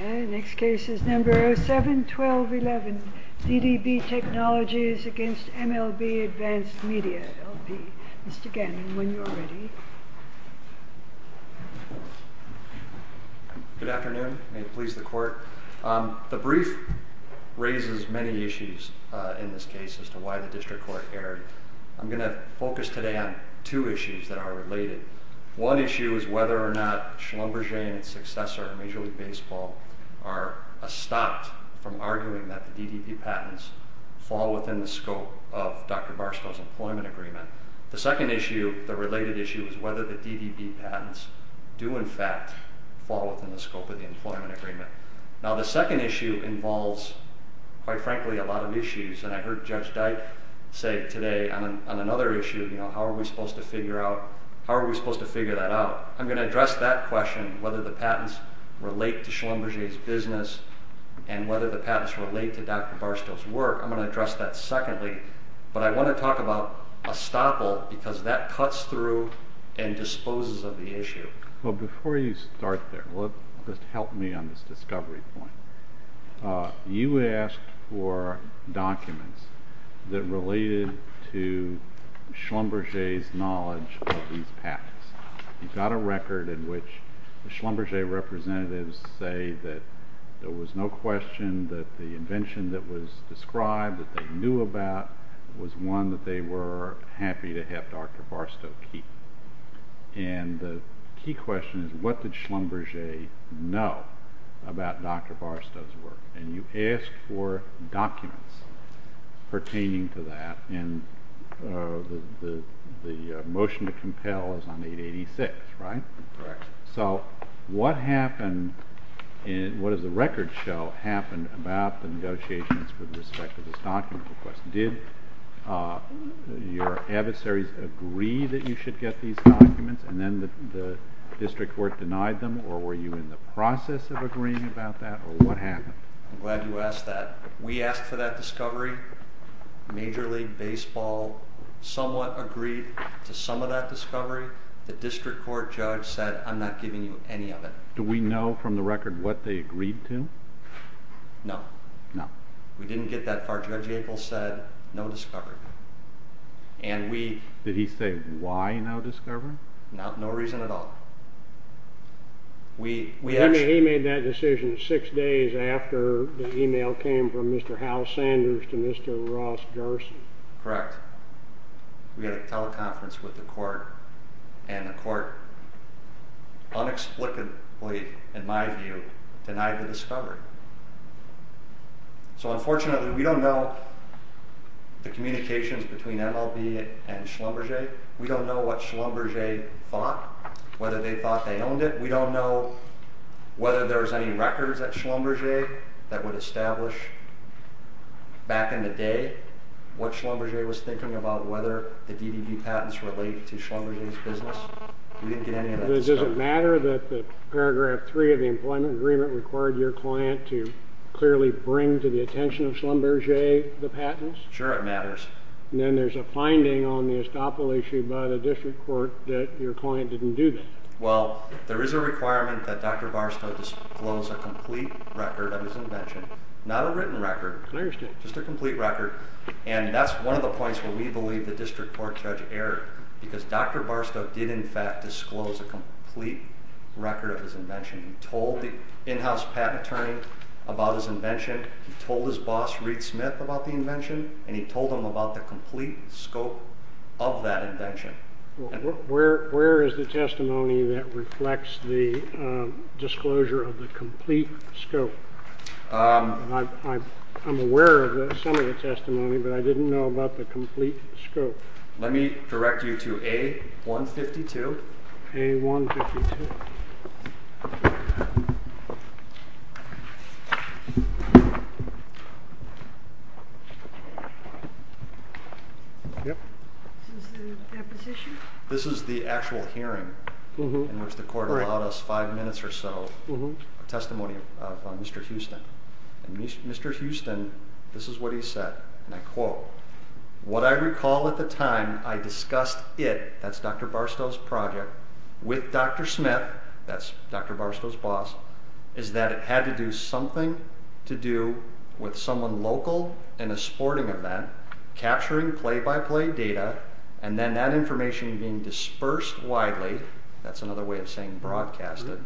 Next case is number 07-1211, DDB Technologies v. MLB ADV Media LP. Mr. Gannon, when you are ready. Good afternoon. May it please the Court. The brief raises many issues in this case as to why the District Court erred. I'm going to focus today on two issues that are related. One issue is whether or not Schlumberger and his successor, Major League Baseball, are stopped from arguing that the DDB patents fall within the scope of Dr. Barstow's employment agreement. The second issue, the related issue, is whether the DDB patents do in fact fall within the scope of the employment agreement. The second issue involves, quite frankly, a lot of issues. I heard Judge Dyke say today on another issue, how are we supposed to figure that out? I'm going to address that question, whether the patents relate to Schlumberger's business and whether the patents relate to Dr. Barstow's work. I'm going to address that secondly, but I want to talk about estoppel because that cuts through and disposes of the issue. Before you start there, help me on this discovery point. You asked for documents that related to Schlumberger's knowledge of these patents. You got a record in which the Schlumberger representatives say that there was no question that the invention that was described, that they knew about, was one that they were happy to have Dr. Barstow keep. The key question is, what did Schlumberger know about Dr. Barstow's work? You asked for documents pertaining to that, and the motion to compel is on 886, right? Correct. What has the record show happened about the negotiations with respect to this document request? Did your adversaries agree that you should get these documents, and then the district court denied them, or were you in the process of agreeing about that, or what happened? I'm glad you asked that. We asked for that discovery. Major League Baseball somewhat agreed to some of that discovery. The district court judge said, I'm not giving you any of it. Do we know from the record what they agreed to? No. No. We didn't get that far. Judge Yackel said, no discovery. Did he say why no discovery? No reason at all. He made that decision six days after the email came from Mr. Hal Sanders to Mr. Ross Jarson. Correct. We had a teleconference with the court, and the court unexplicably, in my view, denied the discovery. So unfortunately, we don't know the communications between MLB and Schlumberger. We don't know what Schlumberger thought, whether they thought they owned it. We don't know whether there's any records at Schlumberger that would establish, back in the day, what Schlumberger was thinking about whether the DDB patents related to Schlumberger's business. We didn't get any of that discovery. Does it matter that paragraph three of the employment agreement required your client to clearly bring to the attention of Schlumberger the patents? Sure, it matters. Then there's a finding on the estoppel issue by the district court that your client didn't do that. Well, there is a requirement that Dr. Barstow disclose a complete record of his invention. Not a written record, just a complete record, and that's one of the points where we believe the district court judge erred, because Dr. Barstow did, in fact, disclose a complete record of his invention. He told the in-house patent attorney about his invention. He told his boss, Reed Smith, about the invention, and he told him about the complete scope of that invention. Where is the testimony that reflects the disclosure of the complete scope? I'm aware of some of the testimony, but I didn't know about the complete scope. Let me direct you to A152. A152. This is the actual hearing in which the court allowed us five minutes or so of testimony of Mr. Houston. Mr. Houston, this is what he said, and I quote, What I recall at the time I discussed it, that's Dr. Barstow's project, with Dr. Smith, that's Dr. Barstow's boss, is that it had to do something to do with someone local in a sporting event capturing play-by-play data, and then that information being dispersed widely, that's another way of saying broadcasted,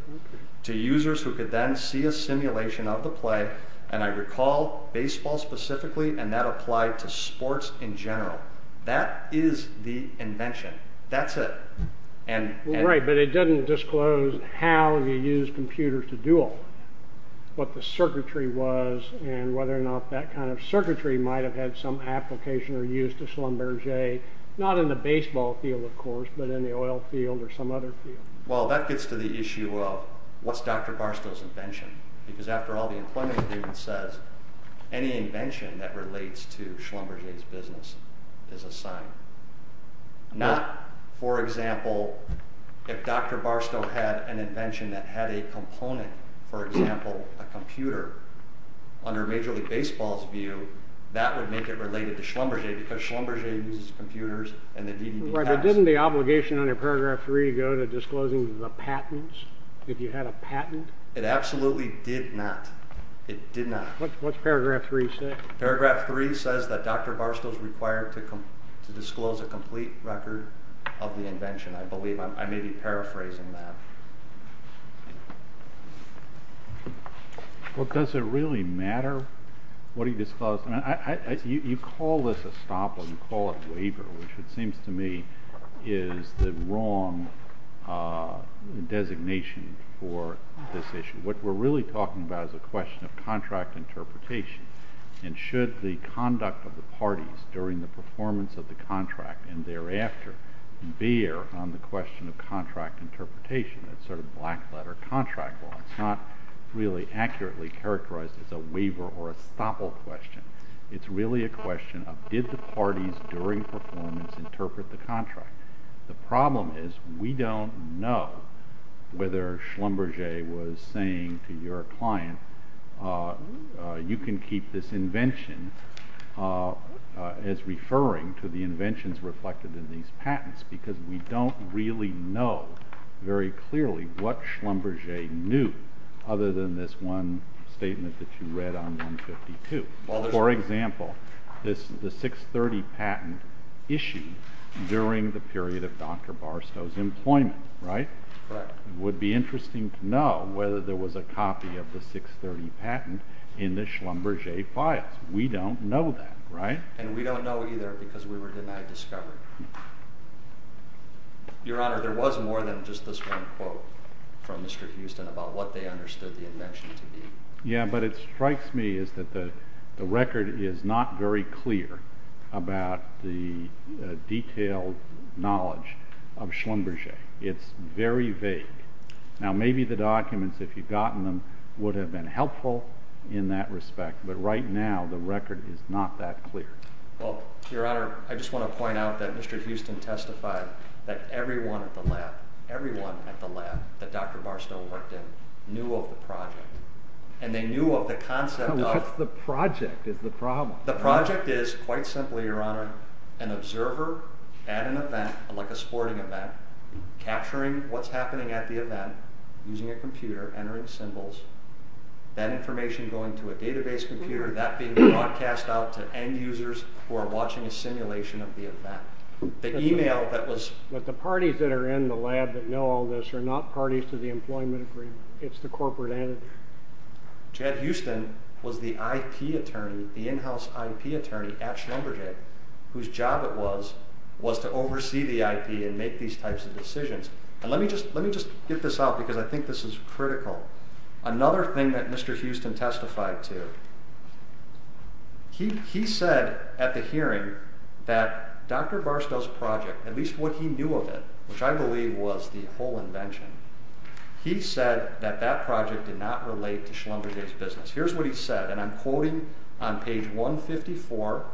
to users who could then see a simulation of the play, and I recall baseball specifically, and that applied to sports in general. That is the invention. That's it. Right, but it doesn't disclose how he used computers to do it, what the circuitry was, and whether or not that kind of circuitry might have had some application or use to Schlumberger, not in the baseball field, of course, but in the oil field or some other field. Well, that gets to the issue of what's Dr. Barstow's invention, because after all the employment agreement says, any invention that relates to Schlumberger's business is a sign. Not, for example, if Dr. Barstow had an invention that had a component, for example, a computer, under Major League Baseball's view, that would make it related to Schlumberger, because Schlumberger uses computers, and the DVD tax— Right, but didn't the obligation under Paragraph 3 go to disclosing the patents, if you had a patent? It absolutely did not. It did not. What's Paragraph 3 say? Paragraph 3 says that Dr. Barstow's required to disclose a complete record of the invention, I believe. I may be paraphrasing that. Well, does it really matter what he disclosed? You call this a stop or you call it a waiver, which it seems to me is the wrong designation for this issue. What we're really talking about is a question of contract interpretation, and should the conduct of the parties during the performance of the contract and thereafter veer on the question of contract interpretation, that sort of black-letter contract law. It's not really accurately characterized as a waiver or a stopple question. It's really a question of did the parties during performance interpret the contract. The problem is we don't know whether Schlumberger was saying to your client, you can keep this invention as referring to the inventions reflected in these patents, because we don't really know very clearly what Schlumberger knew other than this one statement that you read on 152. For example, the 630 patent issued during the period of Dr. Barstow's employment, right? Correct. It would be interesting to know whether there was a copy of the 630 patent in the Schlumberger files. We don't know that, right? And we don't know either because we were denied discovery. Your Honor, there was more than just this one quote from Mr. Houston about what they understood the invention to be. Yeah, but it strikes me that the record is not very clear about the detailed knowledge of Schlumberger. It's very vague. Now, maybe the documents, if you've gotten them, would have been helpful in that respect, but right now the record is not that clear. Well, Your Honor, I just want to point out that Mr. Houston testified that everyone at the lab, everyone at the lab that Dr. Barstow worked in, knew of the project. And they knew of the concept of— No, what's the project is the problem. The project is, quite simply, Your Honor, an observer at an event, like a sporting event, capturing what's happening at the event using a computer, entering symbols, that information going to a database computer, that being broadcast out to end users who are watching a simulation of the event. The email that was— But the parties that are in the lab that know all this are not parties to the employment agreement. It's the corporate entity. Chad Houston was the IP attorney, the in-house IP attorney at Schlumberger, whose job it was to oversee the IP and make these types of decisions. And let me just get this out because I think this is critical. Another thing that Mr. Houston testified to, he said at the hearing that Dr. Barstow's project, at least what he knew of it, which I believe was the whole invention, he said that that project did not relate to Schlumberger's business. Here's what he said, and I'm quoting on page 154,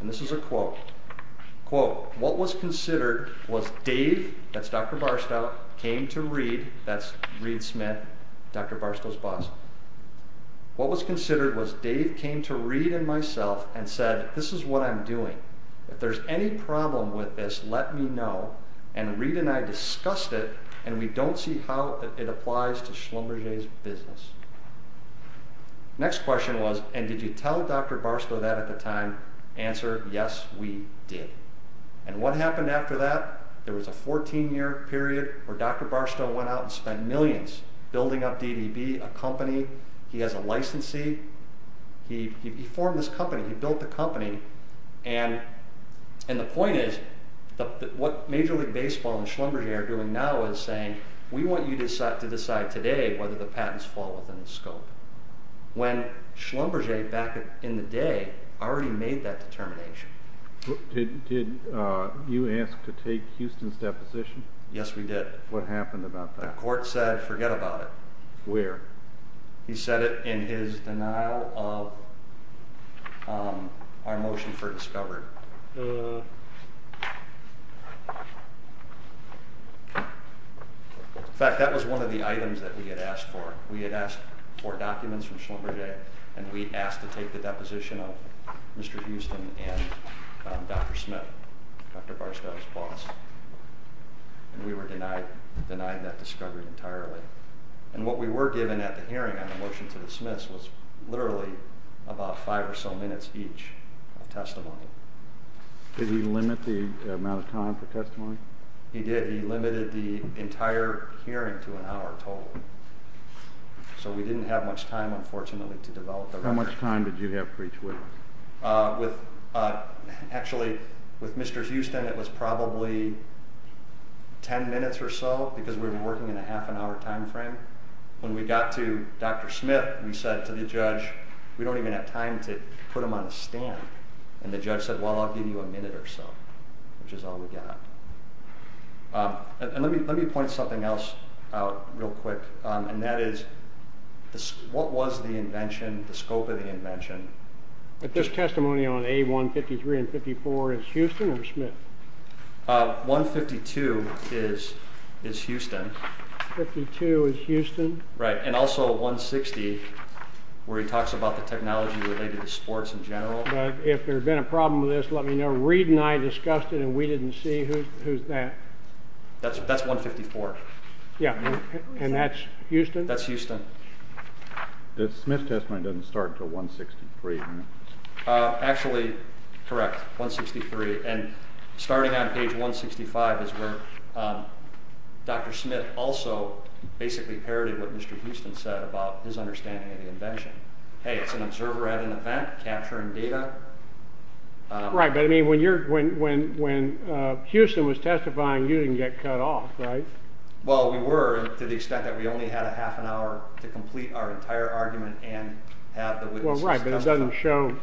and this is a quote. Quote, what was considered was Dave, that's Dr. Barstow, came to Reed, that's Reed Smith, Dr. Barstow's boss. What was considered was Dave came to Reed and myself and said, this is what I'm doing. If there's any problem with this, let me know. And Reed and I discussed it, and we don't see how it applies to Schlumberger's business. Next question was, and did you tell Dr. Barstow that at the time? Answer, yes, we did. And what happened after that? There was a 14-year period where Dr. Barstow went out and spent millions building up DDB, a company. He has a licensee. He formed this company. He built the company. And the point is, what Major League Baseball and Schlumberger are doing now is saying, we want you to decide today whether the patents fall within the scope. When Schlumberger, back in the day, already made that determination. Did you ask to take Houston's deposition? Yes, we did. What happened about that? The court said, forget about it. Where? He said it in his denial of our motion for discovery. In fact, that was one of the items that we had asked for. We had asked for documents from Schlumberger, and we asked to take the deposition of Mr. Houston and Dr. Smith, Dr. Barstow's boss. And we were denied that discovery entirely. And what we were given at the hearing on the motion to dismiss was literally about five or so minutes each of testimony. Did he limit the amount of time for testimony? He did. He limited the entire hearing to an hour total. So we didn't have much time, unfortunately, to develop the record. How much time did you have for each witness? Actually, with Mr. Houston, it was probably 10 minutes or so, because we were working in a half an hour time frame. When we got to Dr. Smith, we said to the judge, we don't even have time to put him on the stand. And the judge said, well, I'll give you a minute or so, which is all we got. And let me point something else out real quick, and that is what was the invention, the scope of the invention? This testimony on A153 and A154 is Houston or Smith? A152 is Houston. A152 is Houston. Right, and also A160, where he talks about the technology related to sports in general. But if there had been a problem with this, let me know. Reid and I discussed it, and we didn't see who's that. That's A154. Yeah, and that's Houston? That's Houston. The Smith testimony doesn't start until A163. Actually, correct, A163. And starting on page 165 is where Dr. Smith also basically parodied what Mr. Houston said about his understanding of the invention. Hey, it's an observer at an event capturing data. Right, but I mean when Houston was testifying, you didn't get cut off, right? Well, we were to the extent that we only had a half an hour to complete our entire argument and have the witnesses testify. Well, right, but it doesn't show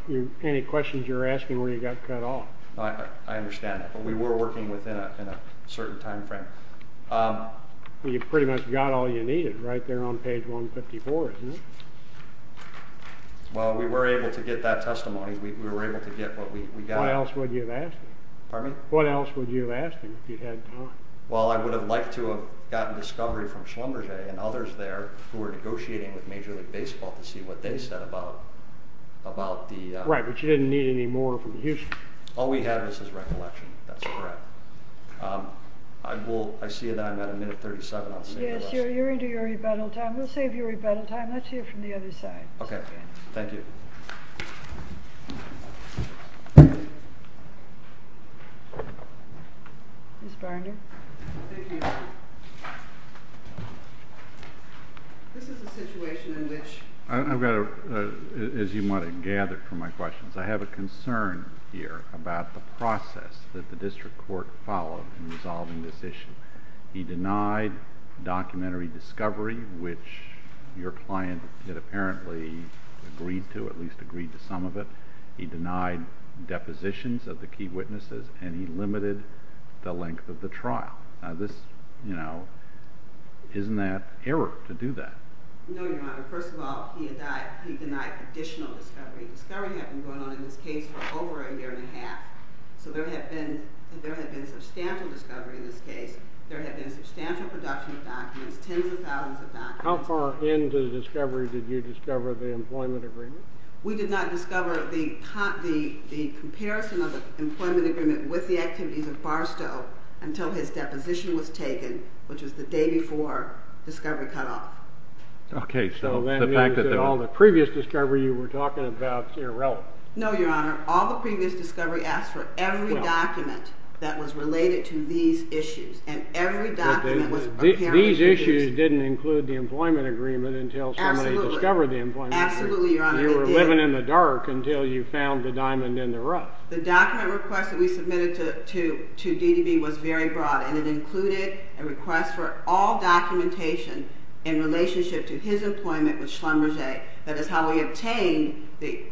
any questions you're asking where you got cut off. I understand that, but we were working within a certain time frame. You pretty much got all you needed right there on page 154, isn't it? Well, we were able to get that testimony. We were able to get what we got. What else would you have asked him if you'd had time? Well, I would have liked to have gotten discovery from Schlumberger and others there who were negotiating with Major League Baseball to see what they said about the— Right, but you didn't need any more from Houston. All we had was his recollection. That's correct. I see that I'm at a minute 37. Yes, you're into your rebuttal time. We'll save your rebuttal time. Let's hear from the other side. Okay. Thank you. Ms. Barnard. Thank you. This is a situation in which— I've got a—as you might have gathered from my questions, I have a concern here about the process that the district court followed in resolving this issue. He denied documentary discovery, which your client had apparently agreed to, at least agreed to some of it. He denied depositions of the key witnesses, and he limited the length of the trial. Now this, you know, isn't that error to do that? No, Your Honor. First of all, he denied additional discovery. Discovery had been going on in this case for over a year and a half, so there had been substantial discovery in this case. There had been substantial production of documents, tens of thousands of documents. How far into the discovery did you discover the employment agreement? We did not discover the comparison of the employment agreement with the activities of Barstow until his deposition was taken, which was the day before discovery cut off. Okay, so that means that all the previous discovery you were talking about is irrelevant. No, Your Honor. All the previous discovery asks for every document that was related to these issues, and every document was apparently... These issues didn't include the employment agreement until somebody discovered the employment agreement. Absolutely, Your Honor. You were living in the dark until you found the diamond in the rough. The document request that we submitted to DDB was very broad, and it included a request for all documentation in relationship to his employment with Schlumberger. That is how we obtained the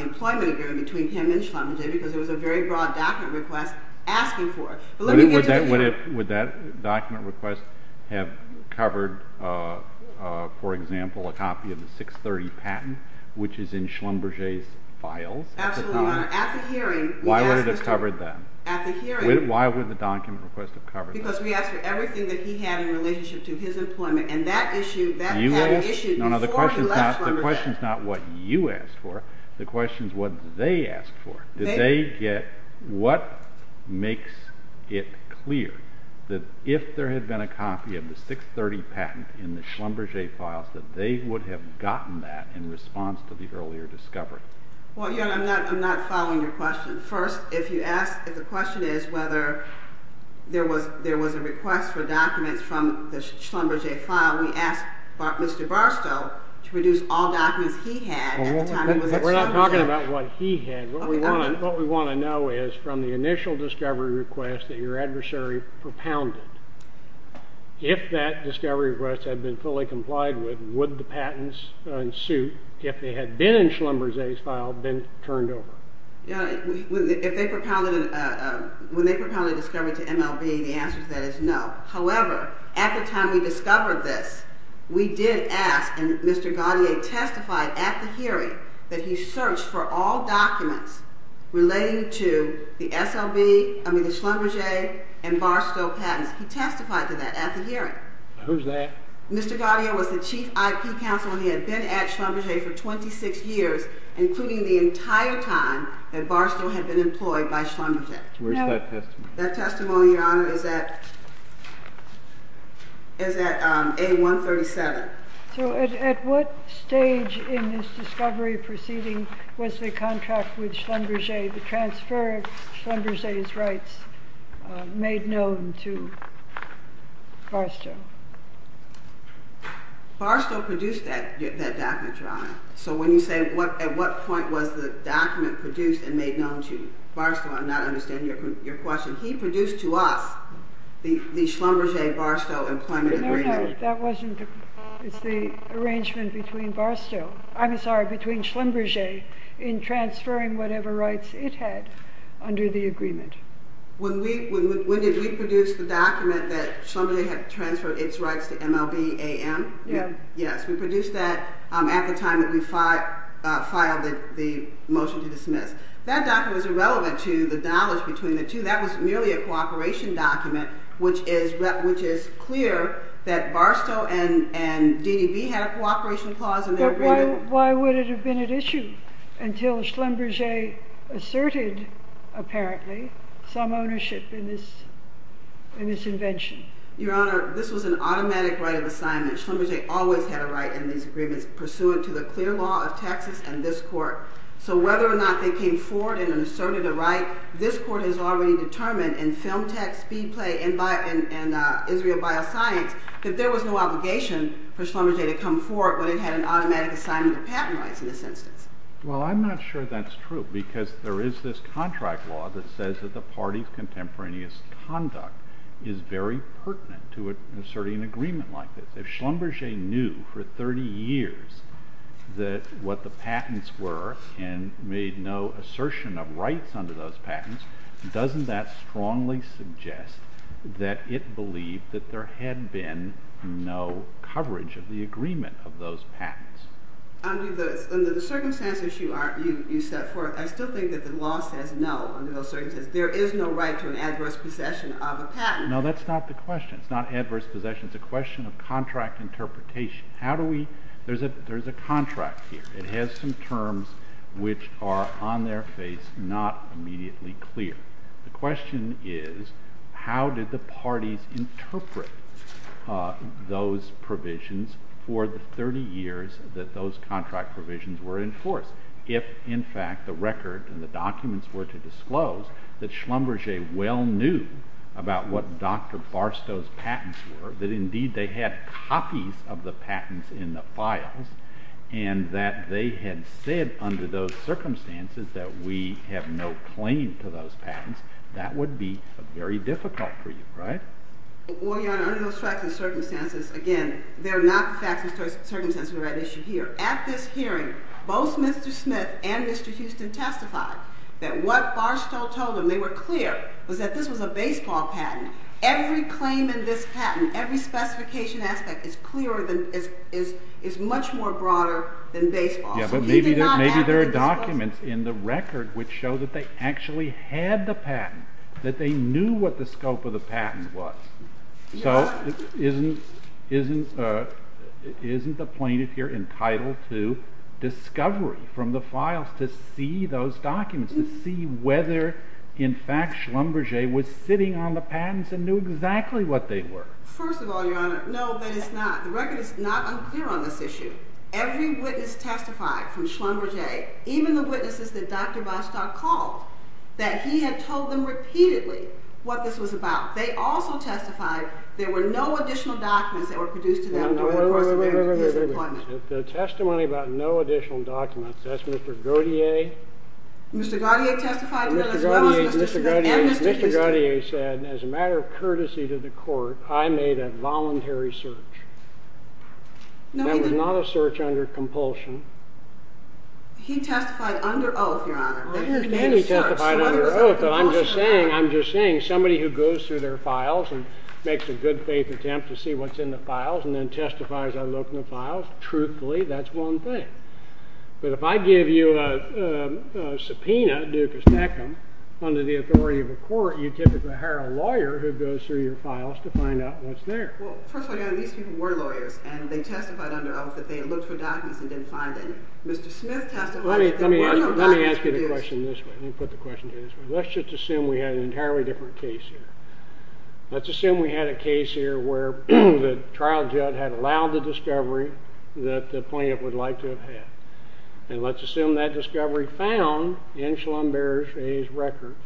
employment agreement between him and Schlumberger, because it was a very broad document request asking for it. Would that document request have covered, for example, a copy of the 630 patent, which is in Schlumberger's files? Absolutely, Your Honor. At the hearing... Why would it have covered that? At the hearing... Why would the document request have covered that? Because we asked for everything that he had in relationship to his employment, and that issue, that patent issue, before he left Schlumberger. The question is not what you asked for. The question is what they asked for. Did they get... What makes it clear that if there had been a copy of the 630 patent in the Schlumberger files, that they would have gotten that in response to the earlier discovery? Well, Your Honor, I'm not following your question. If the question is whether there was a request for documents from the Schlumberger file, we asked Mr. Barstow to produce all documents he had at the time he was at Schlumberger. We're not talking about what he had. What we want to know is, from the initial discovery request that your adversary propounded, if that discovery request had been fully complied with, would the patents in suit, if they had been in Schlumberger's file, been turned over? When they propounded a discovery to MLB, the answer to that is no. However, at the time we discovered this, we did ask, and Mr. Gaudier testified at the hearing, that he searched for all documents relating to the Schlumberger and Barstow patents. He testified to that at the hearing. Who's that? Mr. Gaudier was the chief IP counsel, and he had been at Schlumberger for 26 years, including the entire time that Barstow had been employed by Schlumberger. Where's that testimony? That testimony, Your Honor, is at A137. So at what stage in this discovery proceeding was the contract with Schlumberger, the transfer of Schlumberger's rights, made known to Barstow? Barstow produced that document, Your Honor. So when you say at what point was the document produced and made known to Barstow, I'm not understanding your question. He produced to us the Schlumberger-Barstow employment agreement. No, no. It's the arrangement between Schlumberger in transferring whatever rights it had under the agreement. When did we produce the document that Schlumberger had transferred its rights to MLB-AM? Yes. Yes, we produced that at the time that we filed the motion to dismiss. That document was irrelevant to the knowledge between the two. That was merely a cooperation document, which is clear that Barstow and DDB had a cooperation clause in their agreement. But why would it have been at issue until Schlumberger asserted, apparently, some ownership in this invention? Your Honor, this was an automatic right of assignment. Schlumberger always had a right in these agreements, pursuant to the clear law of Texas and this Court. So whether or not they came forward and asserted a right, this Court has already determined in Film Tech, Speedplay, and Israel Bioscience that there was no obligation for Schlumberger to come forward when it had an automatic assignment of patent rights in this instance. Well, I'm not sure that's true because there is this contract law that says that the party's contemporaneous conduct is very pertinent to asserting an agreement like this. If Schlumberger knew for 30 years what the patents were and made no assertion of rights under those patents, doesn't that strongly suggest that it believed that there had been no coverage of the agreement of those patents? Under the circumstances you set forth, I still think that the law says no under those circumstances. There is no right to an adverse possession of a patent. No, that's not the question. It's not adverse possession. It's a question of contract interpretation. There's a contract here. It has some terms which are on their face, not immediately clear. The question is how did the parties interpret those provisions for the 30 years that those contract provisions were enforced if, in fact, the record and the documents were to disclose that Schlumberger well knew about what Dr. Barstow's patents were, that indeed they had copies of the patents in the files, and that they had said under those circumstances that we have no claim to those patents, that would be very difficult for you, right? Well, Your Honor, under those facts and circumstances, again, they're not the facts and circumstances of the issue here. At this hearing, both Mr. Smith and Mr. Houston testified that what Barstow told them, they were clear, was that this was a baseball patent. Every claim in this patent, every specification aspect, is much more broader than baseball. Yeah, but maybe there are documents in the record which show that they actually had the patent, that they knew what the scope of the patent was. So isn't the plaintiff here entitled to discovery from the files to see those documents, to see whether, in fact, Schlumberger was sitting on the patents and knew exactly what they were? First of all, Your Honor, no, that is not. The record is not unclear on this issue. Every witness testified from Schlumberger, even the witnesses that Dr. Barstow called, that he had told them repeatedly what this was about. They also testified there were no additional documents that were produced to them during the course of his employment. The testimony about no additional documents, that's Mr. Gaudier. Mr. Gaudier testified to that, as well as Mr. Shugart and Mr. Huston. Mr. Gaudier said, as a matter of courtesy to the court, I made a voluntary search. That was not a search under compulsion. He testified under oath, Your Honor. I understand he testified under oath, but I'm just saying, somebody who goes through their files and makes a good faith attempt to see what's in the files and then testifies, I look in the files, truthfully, that's one thing. But if I give you a subpoena, Dukas-Eckham, under the authority of a court, you typically hire a lawyer who goes through your files to find out what's there. Well, first of all, Your Honor, these people were lawyers, and they testified under oath that they had looked for documents and didn't find any. Mr. Smith testified that there were no documents produced. Let me ask you the question this way. Let me put the question to you this way. Let's just assume we had an entirely different case here. Let's assume we had a case here where the trial judge had allowed the discovery that the plaintiff would like to have had. And let's assume that discovery found in Schlumberger's records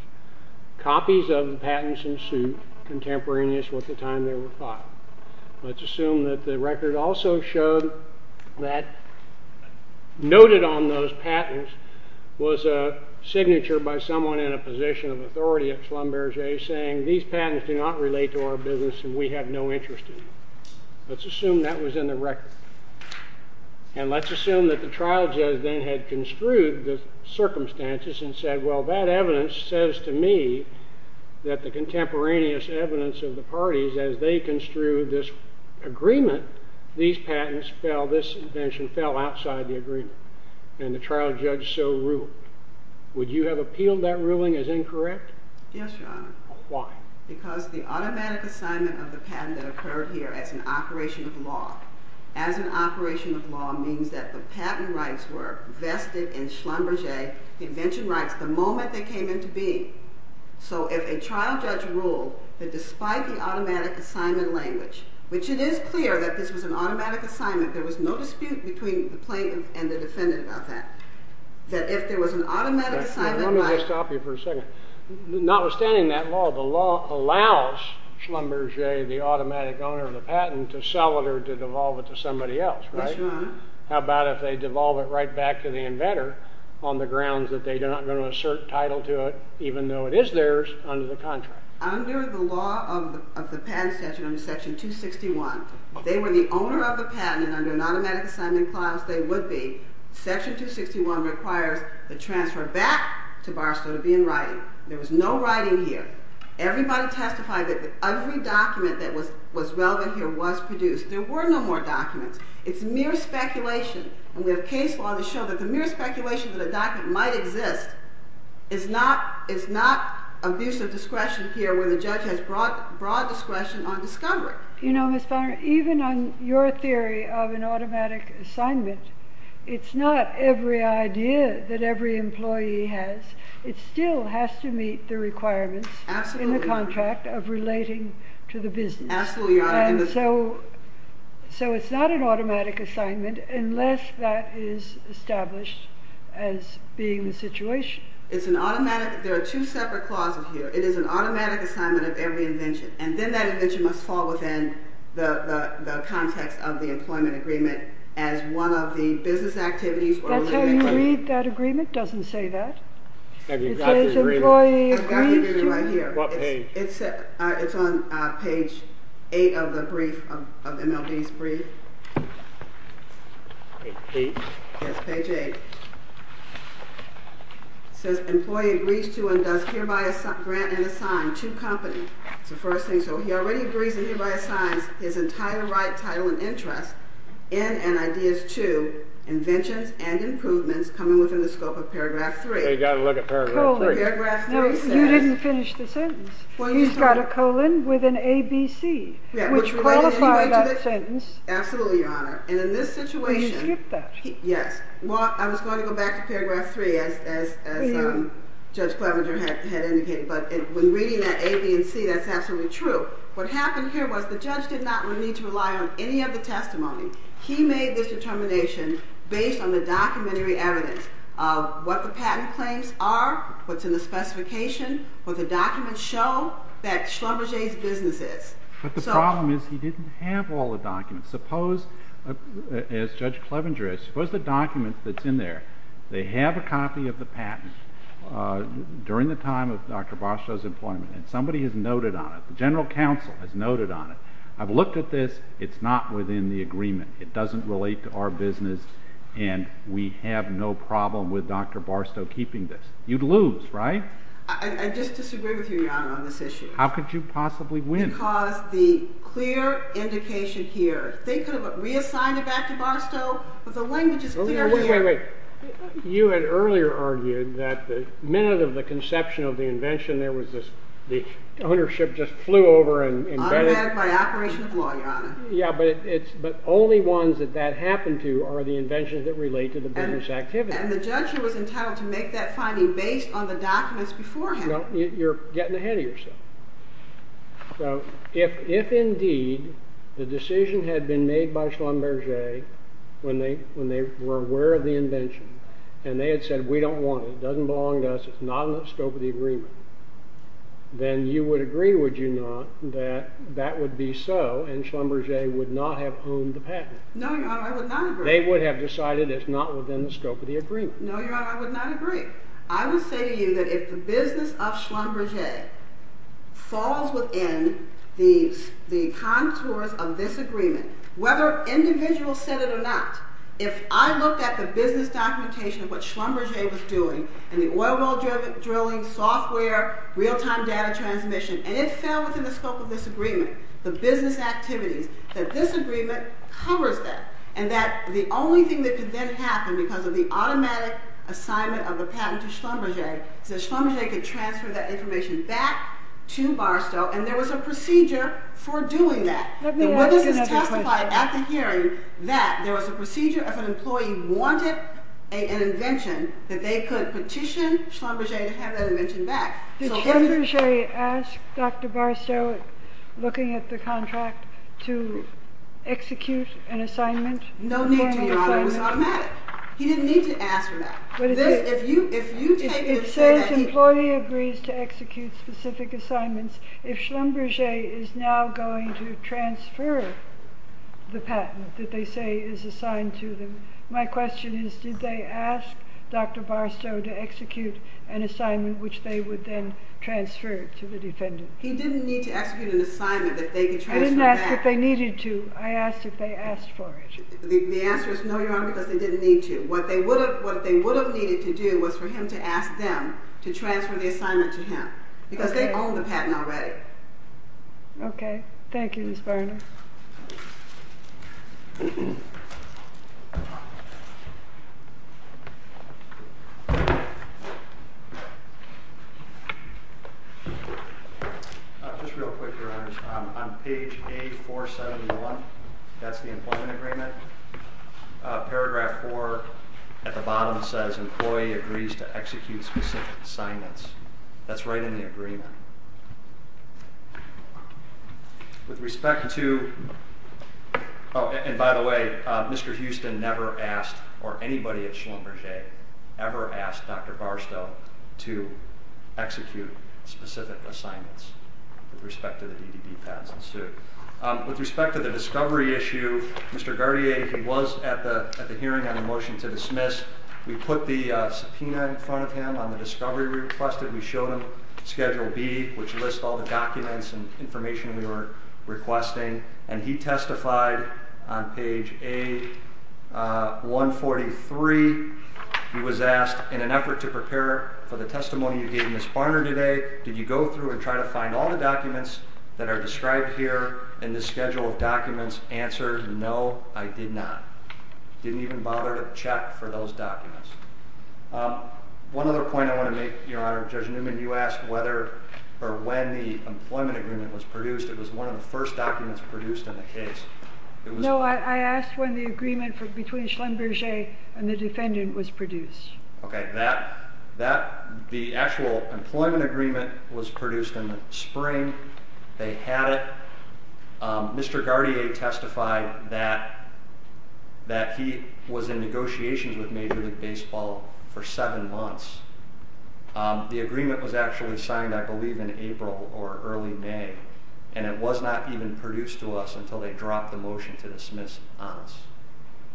copies of the patents in suit contemporaneous with the time they were filed. Let's assume that the record also showed that noted on those patents was a signature by someone in a position of authority at Schlumberger saying these patents do not relate to our business and we have no interest in them. Let's assume that was in the record. And let's assume that the trial judge then had construed the circumstances and said, well, that evidence says to me that the contemporaneous evidence of the parties as they construed this agreement, these patents fell, this invention fell outside the agreement. And the trial judge so ruled. Would you have appealed that ruling as incorrect? Yes, Your Honor. Because the automatic assignment of the patent that occurred here as an operation of law as an operation of law means that the patent rights were vested in Schlumberger invention rights the moment they came into being. So if a trial judge ruled that despite the automatic assignment language, which it is clear that this was an automatic assignment, there was no dispute between the plaintiff and the defendant about that, that if there was an automatic assignment... Let me just stop you for a second. Notwithstanding that law, the law allows Schlumberger, the automatic owner of the patent, to sell it or to devolve it to somebody else, right? Yes, Your Honor. How about if they devolve it right back to the inventor on the grounds that they are not going to assert title to it even though it is theirs under the contract? Under the law of the patent statute under section 261, if they were the owner of the patent and under an automatic assignment clause they would be, section 261 requires the transfer back to Barstow to be in writing. There was no writing here. Everybody testified that every document that was relevant here was produced. There were no more documents. It's mere speculation. And we have case law to show that the mere speculation that a document might exist is not abusive discretion here where the judge has broad discretion on discovery. You know, Ms. Bonner, even on your theory of an automatic assignment, it's not every idea that every employee has. It still has to meet the requirements. Absolutely. In the contract of relating to the business. Absolutely, Your Honor. And so it's not an automatic assignment unless that is established as being the situation. It's an automatic... There are two separate clauses here. It is an automatic assignment of every invention. And then that invention must fall within the context of the employment agreement as one of the business activities... That's how you read that agreement. It doesn't say that. Have you got the agreement? I've got the agreement right here. What page? It's on page 8 of the brief, of MLB's brief. Page 8? Yes, page 8. It says, employee agrees to and does hereby grant and assign to company. It's the first thing. So he already agrees and hereby assigns his entire right, title, and interest in and ideas to inventions and improvements coming within the scope of paragraph 3. So you've got to look at paragraph 3. No, you didn't finish the sentence. He's got a colon with an ABC, which qualifies that sentence. Absolutely, Your Honor. And in this situation... You skipped that. Yes. I was going to go back to paragraph 3 as Judge Clevenger had indicated, but when reading that A, B, and C, that's absolutely true. What happened here was the judge did not need to rely on any of the testimony. He made this determination based on the documentary evidence of what the patent claims are, what's in the specification, what the documents show, that Schlumberger's business is. But the problem is he didn't have all the documents. Suppose, as Judge Clevenger is, suppose the document that's in there, they have a copy of the patent during the time of Dr. Barstow's employment and somebody has noted on it, the general counsel has noted on it. I've looked at this. It's not within the agreement. It doesn't relate to our business and we have no problem with Dr. Barstow keeping this. You'd lose, right? I just disagree with you, Your Honor, on this issue. How could you possibly win? Because the clear indication here, they could have reassigned it back to Barstow, but the language is clear here. Wait, wait, wait. You had earlier argued that the minute of the conception of the invention there was this, the ownership just flew over and... Automatic by operation of law, Your Honor. Yeah, but only ones that that happened to are the inventions that relate to the business activity. And the judge was entitled to make that finding based on the documents before him. You're getting ahead of yourself. So if indeed the decision had been made by Schlumberger when they were aware of the invention and they had said, we don't want it, it doesn't belong to us, it's not in the scope of the agreement, then you would agree, would you not, that that would be so and Schlumberger would not have owned the patent. No, Your Honor, I would not agree. They would have decided it's not within the scope of the agreement. No, Your Honor, I would not agree. I would say to you that if the business of Schlumberger falls within the contours of this agreement, whether individuals said it or not, if I looked at the business documentation of what Schlumberger was doing and the oil well drilling, software, real-time data transmission, and it fell within the scope of this agreement, the business activities, that this agreement covers that and that the only thing that could then happen because of the automatic assignment of the patent to Schlumberger is that Schlumberger could transfer that information back to Barstow and there was a procedure for doing that. Let me ask another question. The witnesses testified at the hearing that there was a procedure if an employee wanted an invention that they could petition Schlumberger to have that invention back. Did Schlumberger ask Dr. Barstow, looking at the contract, to execute an assignment? No need to, Your Honor. It was automatic. He didn't need to ask for that. If you take it and say that he... If said employee agrees to execute specific assignments, if Schlumberger is now going to transfer the patent that they say is assigned to them, my question is, did they ask Dr. Barstow to execute an assignment which they would then transfer to the defendant? He didn't need to execute an assignment that they could transfer back. I didn't ask if they needed to. I asked if they asked for it. The answer is no, Your Honor, because they didn't need to. What they would have needed to do was for him to ask them to transfer the assignment to him because they own the patent already. Okay. Thank you, Ms. Varner. Just real quick, Your Honor. On page A471, that's the employment agreement. Paragraph 4 at the bottom says employee agrees to execute specific assignments. That's right in the agreement. I'm just going to say that Oh, and by the way, Mr. Houston never asked, or anybody at Schlumberger ever asked Dr. Barstow to execute specific assignments with respect to the DDD patents in suit. With respect to the discovery issue, Mr. Gardier, he was at the hearing on the motion to dismiss. We put the subpoena in front of him on the discovery we requested. We showed him Schedule B, which lists all the documents and information we were requesting. And he testified on page A143. He was asked, In an effort to prepare for the testimony you gave Ms. Varner today, did you go through and try to find all the documents that are described here in this schedule of documents? Answer, no, I did not. Didn't even bother to check for those documents. One other point I want to make, Your Honor. Judge Newman, you asked whether or when the employment agreement was produced. It was one of the first documents produced in the case. No, I asked when the agreement between Schlumberger and the defendant was produced. Okay, the actual employment agreement was produced in the spring. They had it. Mr. Gardier testified that he was in negotiations with Major League Baseball for seven months. The agreement was actually signed, I believe, in April or early May. And it was not even produced to us until they dropped the motion to dismiss Ahns,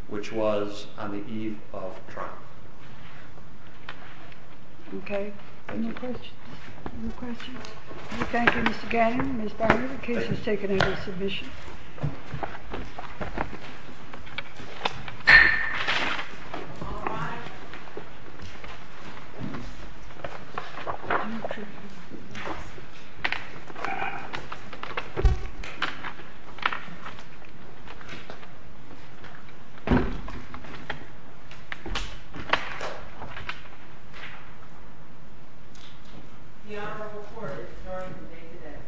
which was on the eve of trial. Okay, any questions? Thank you, Mr. Gardier and Ms. Varner. The case is taken under submission. All rise. The Honorable Court is adjourned for the day today. Thank you, Your Honor.